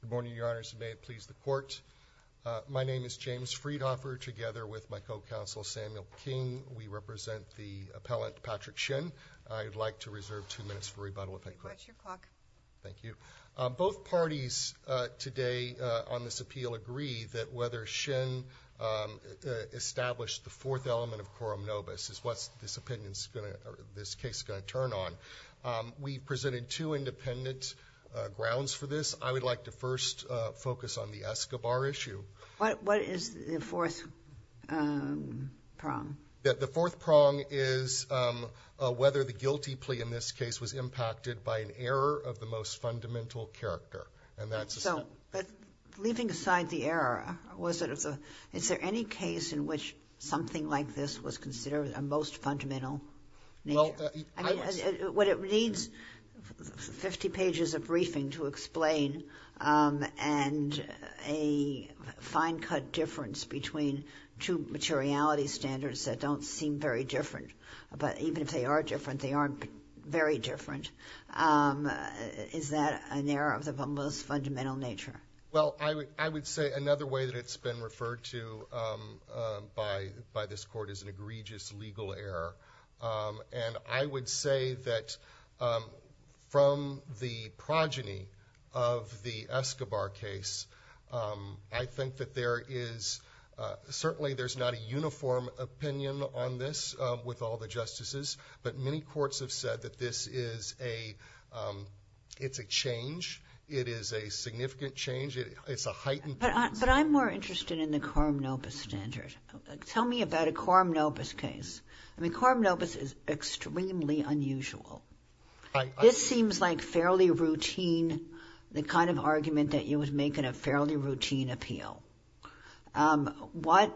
Good morning, Your Honors. May it please the Court. My name is James Friedhofer. Together with my co-counsel, Samuel King, we represent the appellant, Patrick Shin. I'd like to reserve two minutes for rebuttal if I could. That's your clock. Thank you. Both parties today on this appeal agree that whether Shin established the fourth element of quorum nobis is what this case is going to turn on. We've presented two independent grounds for this. I would like to first focus on the Escobar issue. What is the fourth prong? The fourth prong is whether the guilty plea in this case was impacted by an error of the most fundamental character. But leaving aside the error, is there any case in which something like this was considered a most fundamental nature? It needs 50 pages of briefing to explain a fine-cut difference between two materiality standards that don't seem very different. But even if they are different, they aren't very different. Is that an error of the most fundamental nature? I would say another way that it's been referred to by this Court is an egregious legal error. And I would say that from the progeny of the Escobar case, I think that there is certainly there's not a uniform opinion on this with all the justices. But many courts have said that this is a change. It is a significant change. It's a heightened change. But I'm more interested in the quorum nobis standard. Tell me about a quorum nobis case. I mean, quorum nobis is extremely unusual. This seems like fairly routine, the kind of argument that you would make in a fairly routine appeal. What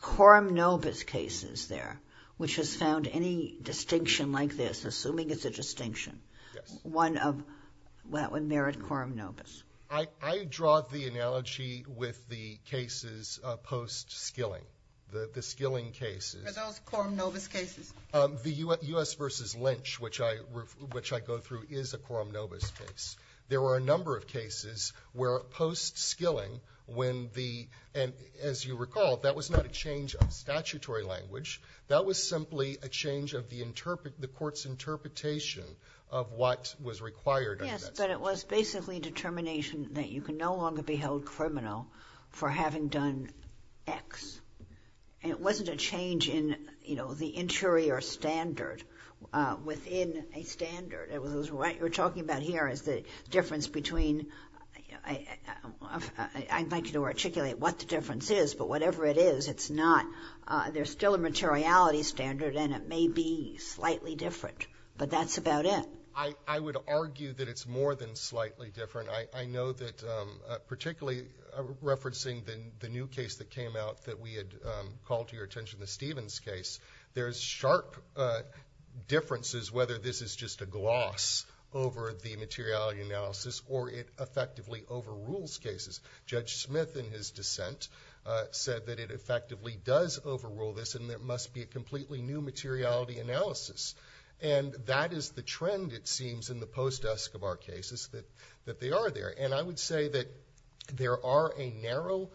quorum nobis cases there, which has found any distinction like this, assuming it's a distinction, one that would merit quorum nobis? I draw the analogy with the cases post-skilling, the skilling cases. Are those quorum nobis cases? The U.S. v. Lynch, which I go through, is a quorum nobis case. There were a number of cases where post-skilling, when the — and as you recall, that was not a change of statutory language. That was simply a change of the court's interpretation of what was required under that statute. But it was basically determination that you can no longer be held criminal for having done X. And it wasn't a change in, you know, the interior standard within a standard. It was what you're talking about here is the difference between — I'd like you to articulate what the difference is, but whatever it is, it's not. There's still a materiality standard, and it may be slightly different. But that's about it. I would argue that it's more than slightly different. I know that, particularly referencing the new case that came out that we had called to your attention, the Stevens case, there's sharp differences whether this is just a gloss over the materiality analysis or it effectively overrules cases. Judge Smith, in his dissent, said that it effectively does overrule this, and there must be a completely new materiality analysis. And that is the trend, it seems, in the post-Escobar cases, that they are there. And I would say that there are a narrow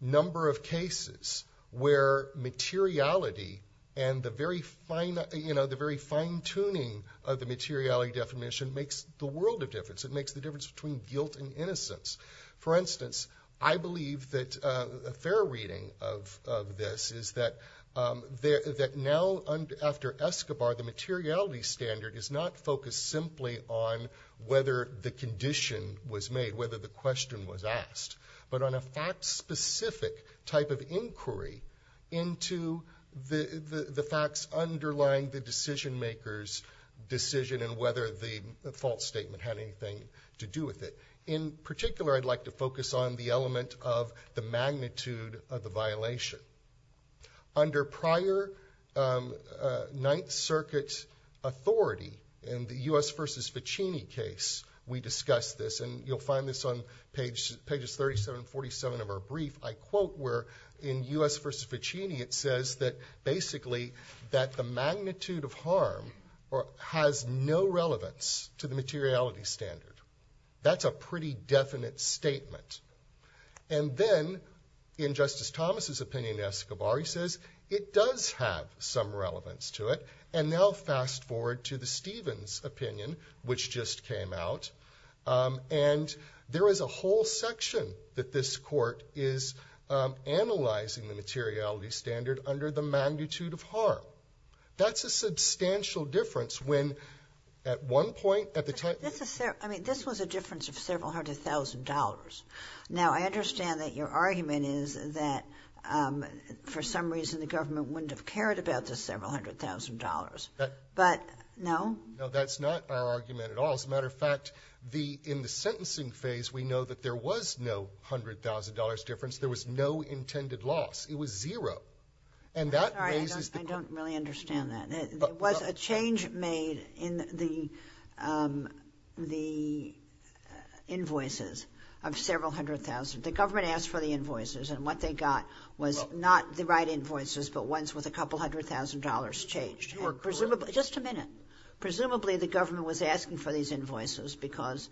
number of cases where materiality and the very fine — you know, the very fine-tuning of the materiality definition makes the world of difference. It makes the difference between guilt and innocence. For instance, I believe that a fair reading of this is that now, after Escobar, the materiality standard is not focused simply on whether the condition was made, whether the question was asked, but on a fact-specific type of inquiry into the facts underlying the decision-maker's decision and whether the false statement had anything to do with it. In particular, I'd like to focus on the element of the magnitude of the violation. Under prior Ninth Circuit authority, in the U.S. v. Ficini case, we discussed this, and you'll find this on pages 37 and 47 of our brief, I quote, where in U.S. v. Ficini, it says that basically that the magnitude of harm has no relevance to the materiality standard. That's a pretty definite statement. And then, in Justice Thomas's opinion in Escobar, he says it does have some relevance to it. And now fast-forward to the Stevens opinion, which just came out, and there is a whole section that this Court is analyzing the materiality standard under the magnitude of harm. That's a substantial difference when, at one point, at the time — I mean, this was a difference of several hundred thousand dollars. Now, I understand that your argument is that, for some reason, the government wouldn't have cared about this several hundred thousand dollars. But — No. No, that's not our argument at all. As a matter of fact, in the sentencing phase, we know that there was no $100,000 difference. There was no intended loss. It was zero. And that raises — I'm sorry. I don't really understand that. There was a change made in the invoices of several hundred thousand. The government asked for the invoices, and what they got was not the right invoices, but ones with a couple hundred thousand dollars changed. Presumably — Just a minute. Presumably, the government was asking for these invoices because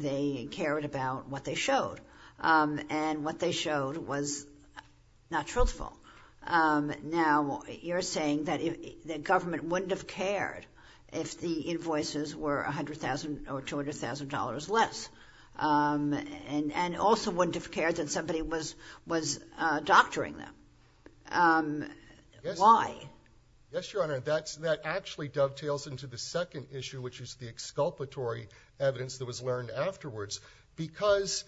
they cared about what they showed. And what they showed was not truthful. Now, you're saying that the government wouldn't have cared if the invoices were $100,000 or $200,000 less, and also wouldn't have cared that somebody was doctoring them. Why? Yes, Your Honor. That actually dovetails into the second issue, which is the exculpatory evidence that was learned afterwards, because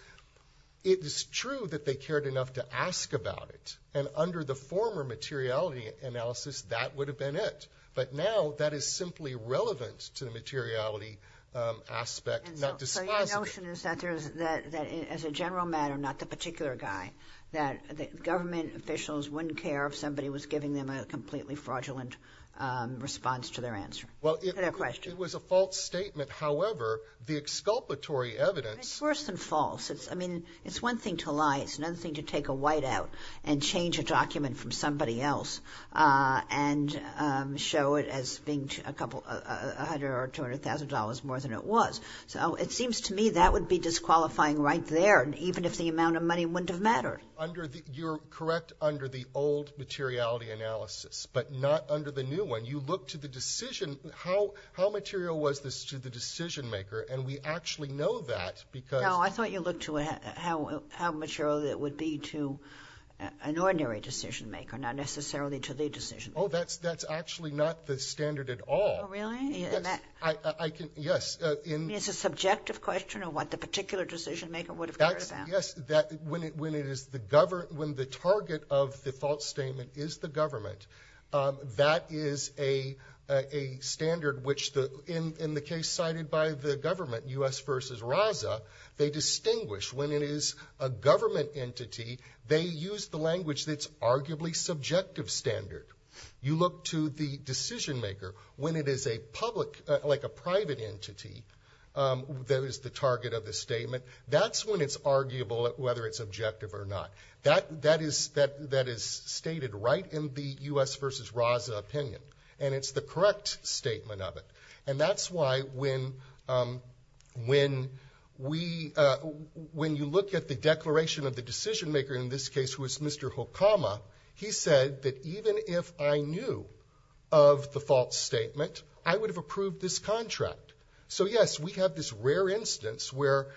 it is true that they cared enough to ask about it. And under the former materiality analysis, that would have been it. But now that is simply relevant to the materiality aspect, not dispositive. So your notion is that as a general matter, not the particular guy, that the government officials wouldn't care if somebody was giving them a completely fraudulent response to their answer, to their question. Well, it was a false statement. However, the exculpatory evidence. It's worse than false. I mean, it's one thing to lie. It's another thing to take a whiteout and change a document from somebody else and show it as being $100,000 or $200,000 more than it was. So it seems to me that would be disqualifying right there, even if the amount of money wouldn't have mattered. You're correct under the old materiality analysis, but not under the new one. You look to the decision. How material was this to the decision-maker? And we actually know that because – No, I thought you looked to how material it would be to an ordinary decision-maker, not necessarily to the decision-maker. Oh, that's actually not the standard at all. Oh, really? Yes. I can – yes. It's a subjective question of what the particular decision-maker would have cared about. Yes. When it is the – when the target of the false statement is the government, that is a standard which, in the case cited by the government, U.S. v. RAZA, they distinguish when it is a government entity, they use the language that's arguably subjective standard. You look to the decision-maker. When it is a public – like a private entity that is the target of the statement, that's when it's arguable whether it's objective or not. That is stated right in the U.S. v. RAZA opinion, and it's the correct statement of it. And that's why when we – when you look at the declaration of the decision-maker in this case, who is Mr. Hukama, he said that even if I knew of the false statement, I would have approved this contract. So, yes, we have this rare instance where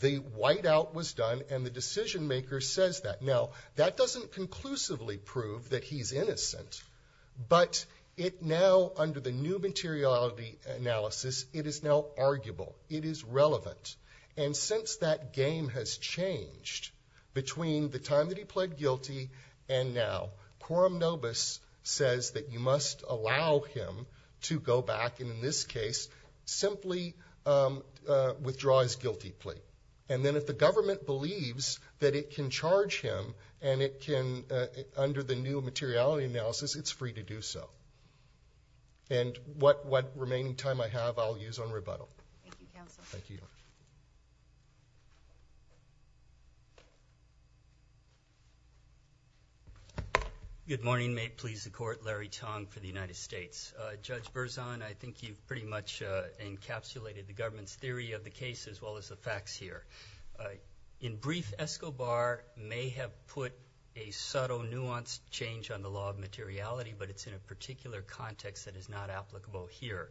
the whiteout was done and the decision-maker says that. Now, that doesn't conclusively prove that he's innocent, but it now, under the new materiality analysis, it is now arguable. It is relevant. And since that game has changed between the time that he pled guilty and now, quorum nobis says that you must allow him to go back and, in this case, simply withdraw his guilty plea. And then if the government believes that it can charge him and it can, under the new materiality analysis, it's free to do so. And what remaining time I have, I'll use on rebuttal. Thank you, counsel. Thank you. Good morning. May it please the Court, Larry Tong for the United States. Judge Berzon, I think you've pretty much encapsulated the government's theory of the case as well as the facts here. In brief, Escobar may have put a subtle, nuanced change on the law of materiality, but it's in a particular context that is not applicable here.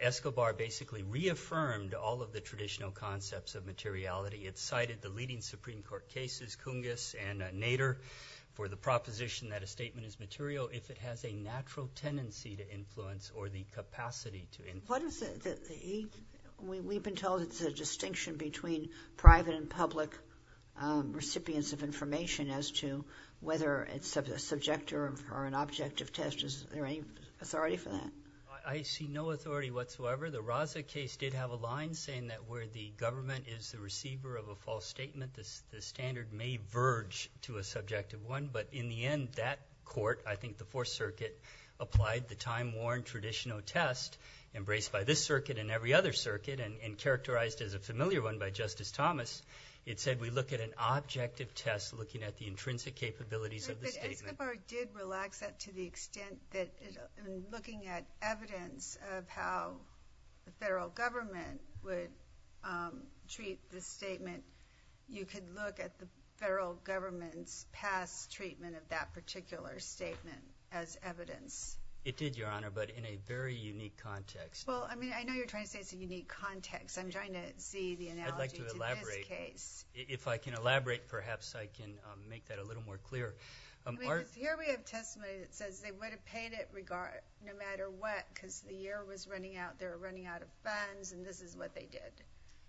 Escobar basically reaffirmed all of the traditional concepts of materiality. It cited the leading Supreme Court cases, Cungus and Nader, for the proposition that a statement is material if it has a natural tendency to influence or the capacity to influence. We've been told it's a distinction between private and public recipients of information as to whether it's a subjective or an objective test. Is there any authority for that? I see no authority whatsoever. The Raza case did have a line saying that where the government is the receiver of a false statement, the standard may verge to a subjective one. But in the end, that court, I think the Fourth Circuit, applied the time-worn traditional test embraced by this circuit and every other circuit and characterized as a familiar one by Justice Thomas. It said we look at an objective test looking at the intrinsic capabilities of the statement. But Escobar did relax that to the extent that in looking at evidence of how the federal government would treat the statement, you could look at the federal government's past treatment of that particular statement as evidence. It did, Your Honor, but in a very unique context. Well, I mean, I know you're trying to say it's a unique context. I'm trying to see the analogy to this case. I'd like to elaborate. If I can elaborate, perhaps I can make that a little more clear. Here we have testimony that says they would have paid it no matter what because the year was running out. They were running out of funds, and this is what they did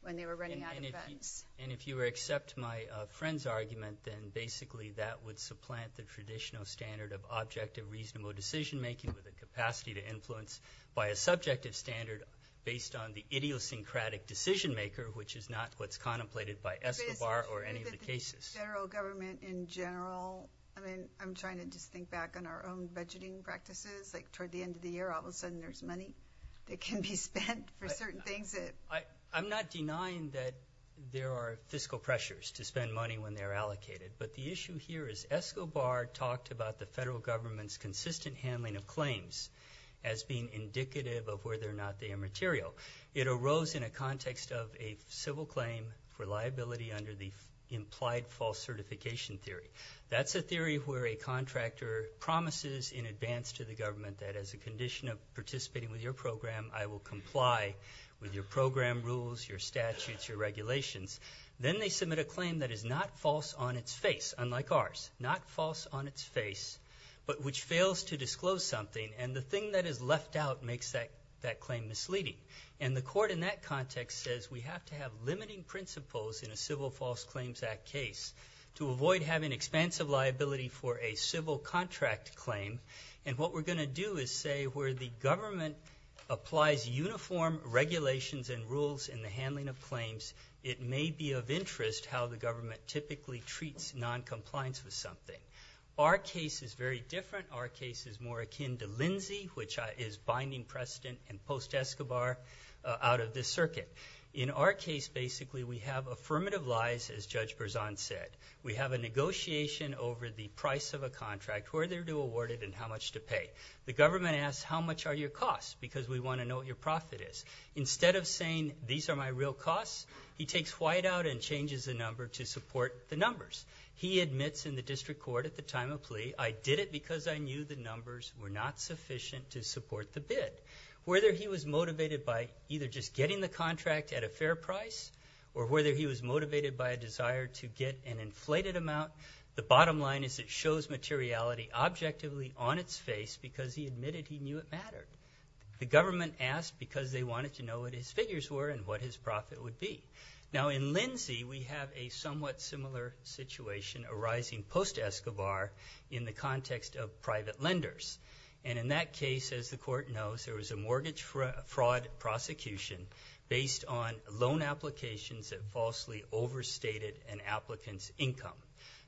when they were running out of funds. And if you accept my friend's argument, then basically that would supplant the traditional standard of objective reasonable decision-making with a capacity to influence by a subjective standard based on the idiosyncratic decision-maker, which is not what's contemplated by Escobar or any of the cases. But isn't it true that the general government in general, I mean I'm trying to just think back on our own budgeting practices, like toward the end of the year all of a sudden there's money that can be spent for certain things? I'm not denying that there are fiscal pressures to spend money when they're allocated, but the issue here is Escobar talked about the federal government's consistent handling of claims as being indicative of whether or not they are material. It arose in a context of a civil claim for liability under the implied false certification theory. That's a theory where a contractor promises in advance to the government that as a condition of participating with your program, I will comply with your program rules, your statutes, your regulations. Then they submit a claim that is not false on its face, unlike ours, not false on its face, but which fails to disclose something, and the thing that is left out makes that claim misleading. And the court in that context says we have to have limiting principles in a Civil False Claims Act case to avoid having expansive liability for a civil contract claim. And what we're going to do is say where the government applies uniform regulations and rules in the handling of claims, it may be of interest how the government typically treats noncompliance with something. Our case is very different. Our case is more akin to Lindsay, which is binding precedent and post-Escobar out of this circuit. In our case, basically, we have affirmative lies, as Judge Berzon said. We have a negotiation over the price of a contract, whether to award it and how much to pay. The government asks how much are your costs because we want to know what your profit is. Instead of saying these are my real costs, he takes whiteout and changes the number to support the numbers. He admits in the district court at the time of plea, I did it because I knew the numbers were not sufficient to support the bid. Whether he was motivated by either just getting the contract at a fair price or whether he was motivated by a desire to get an inflated amount, the bottom line is it shows materiality objectively on its face because he admitted he knew it mattered. The government asked because they wanted to know what his figures were and what his profit would be. Now, in Lindsay, we have a somewhat similar situation arising post-Escobar in the context of private lenders. And in that case, as the court knows, there was a mortgage fraud prosecution based on loan applications that falsely overstated an applicant's income.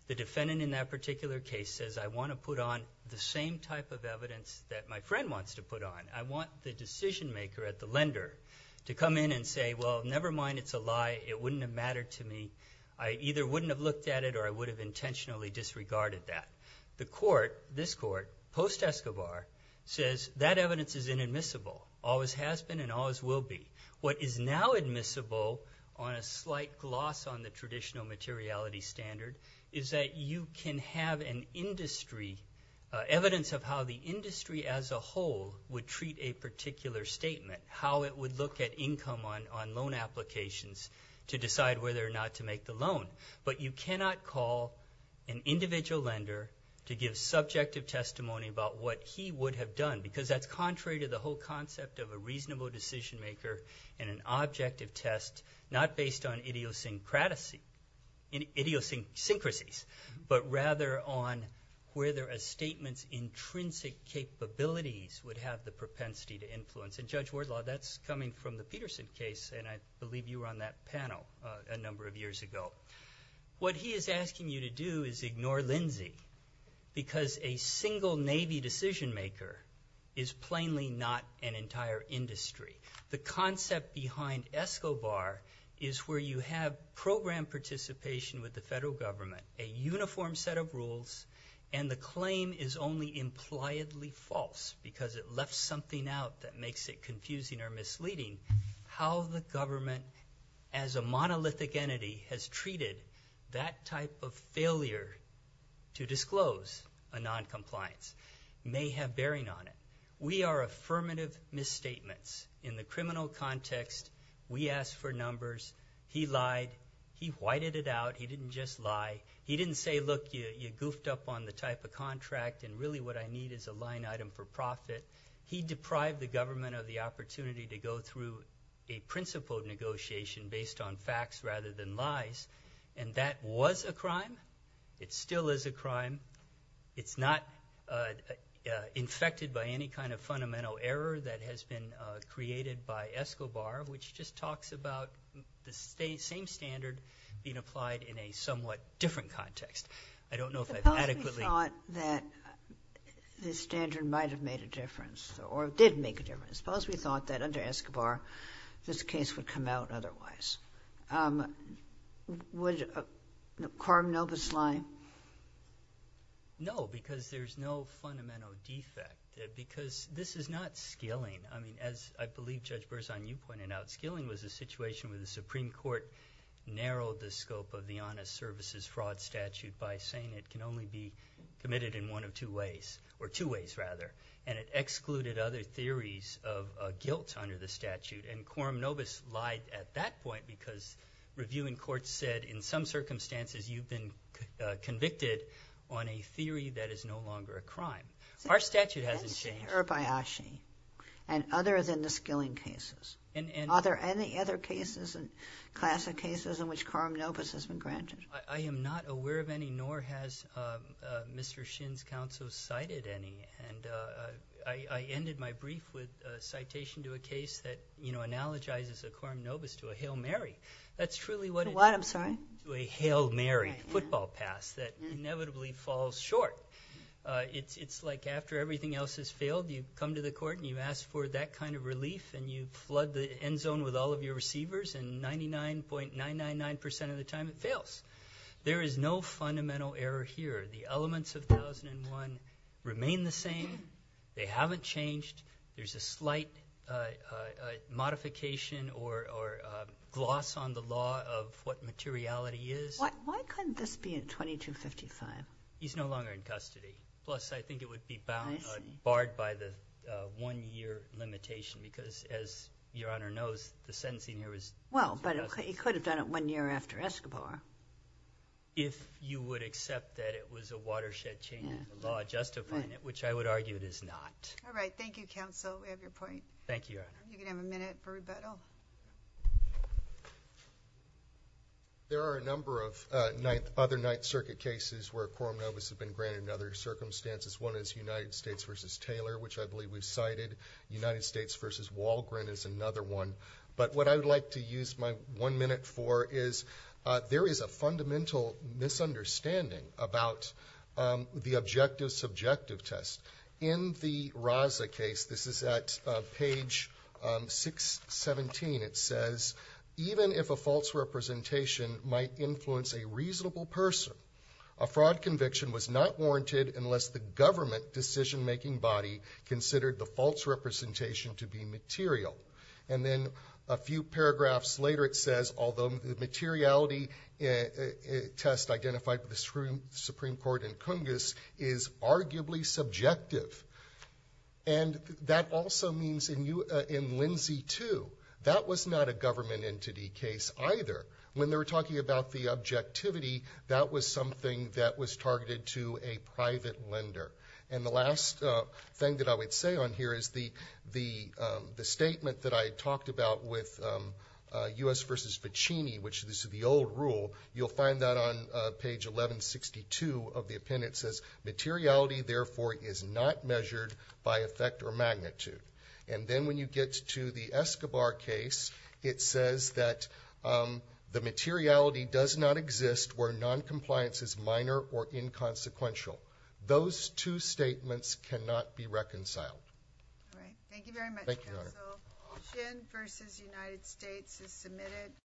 The defendant in that particular case says I want to put on the same type of evidence that my friend wants to put on. I want the decision maker at the lender to come in and say, well, never mind, it's a lie. It wouldn't have mattered to me. I either wouldn't have looked at it or I would have intentionally disregarded that. The court, this court, post-Escobar, says that evidence is inadmissible, always has been and always will be. What is now admissible on a slight gloss on the traditional materiality standard is that you can have an industry, evidence of how the industry as a whole would treat a particular statement, how it would look at income on loan applications to decide whether or not to make the loan. But you cannot call an individual lender to give subjective testimony about what he would have done because that's contrary to the whole concept of a reasonable decision maker and an objective test not based on idiosyncrasies but rather on whether a statement's intrinsic capabilities and Judge Wardlaw, that's coming from the Peterson case and I believe you were on that panel a number of years ago. What he is asking you to do is ignore Lindsay because a single Navy decision maker is plainly not an entire industry. The concept behind Escobar is where you have program participation with the federal government, a uniform set of rules and the claim is only impliedly false because it left something out that makes it confusing or misleading. How the government as a monolithic entity has treated that type of failure to disclose a noncompliance may have bearing on it. We are affirmative misstatements in the criminal context. We asked for numbers. He lied. He whited it out. He didn't just lie. He didn't say, look, you goofed up on the type of contract and really what I need is a line item for profit. He deprived the government of the opportunity to go through a principled negotiation based on facts rather than lies. And that was a crime. It still is a crime. It's not infected by any kind of fundamental error that has been created by Escobar, which just talks about the same standard being applied in a somewhat different context. I don't know if I've adequately ---- Suppose we thought that the standard might have made a difference or did make a difference. Suppose we thought that under Escobar this case would come out otherwise. Would Quorum Novus lie? No, because there's no fundamental defect, because this is not skilling. I mean, as I believe Judge Berzon, you pointed out, skilling was a situation where the Supreme Court narrowed the scope of the honest services fraud statute by saying it can only be committed in one of two ways, or two ways rather, and it excluded other theories of guilt under the statute. And Quorum Novus lied at that point because review in court said, in some circumstances you've been convicted on a theory that is no longer a crime. Our statute hasn't changed. That's Herb Ayashi. And other than the skilling cases. Are there any other cases, classic cases, in which Quorum Novus has been granted? I am not aware of any, nor has Mr. Shin's counsel cited any. I ended my brief with a citation to a case that analogizes a Quorum Novus to a Hail Mary. That's truly what it is. What, I'm sorry? To a Hail Mary football pass that inevitably falls short. It's like after everything else has failed, you come to the court and you ask for that kind of relief, and you flood the end zone with all of your receivers, and 99.999% of the time it fails. There is no fundamental error here. The elements of 1001 remain the same. They haven't changed. There's a slight modification or gloss on the law of what materiality is. Why couldn't this be at 2255? He's no longer in custody. Plus, I think it would be barred by the one-year limitation because, as Your Honor knows, the sentencing here is Well, but he could have done it one year after Escobar. If you would accept that it was a watershed change in the law justifying it, which I would argue it is not. All right. Thank you, counsel. We have your point. Thank you, Your Honor. You can have a minute for rebuttal. There are a number of other Ninth Circuit cases where a Quorum Novus has been granted under other circumstances. One is United States v. Taylor, which I believe we've cited. United States v. Walgren is another one. But what I would like to use my one minute for is there is a fundamental misunderstanding about the objective subjective test. In the Raza case, this is at page 617, it says, Even if a false representation might influence a reasonable person, a fraud conviction was not warranted unless the government decision-making body considered the false representation to be material. And then a few paragraphs later, it says, Although the materiality test identified by the Supreme Court and Congress is arguably subjective. And that also means in Lindsay 2, that was not a government entity case either. When they were talking about the objectivity, that was something that was targeted to a private lender. And the last thing that I would say on here is the statement that I talked about with U.S. v. Ficini, which is the old rule, you'll find that on page 1162 of the appendix. It says, Materiality, therefore, is not measured by effect or magnitude. And then when you get to the Escobar case, it says that the materiality does not exist where noncompliance is minor or inconsequential. Those two statements cannot be reconciled. All right. Thank you very much, counsel. Thank you, Your Honor. Shin v. United States is submitted.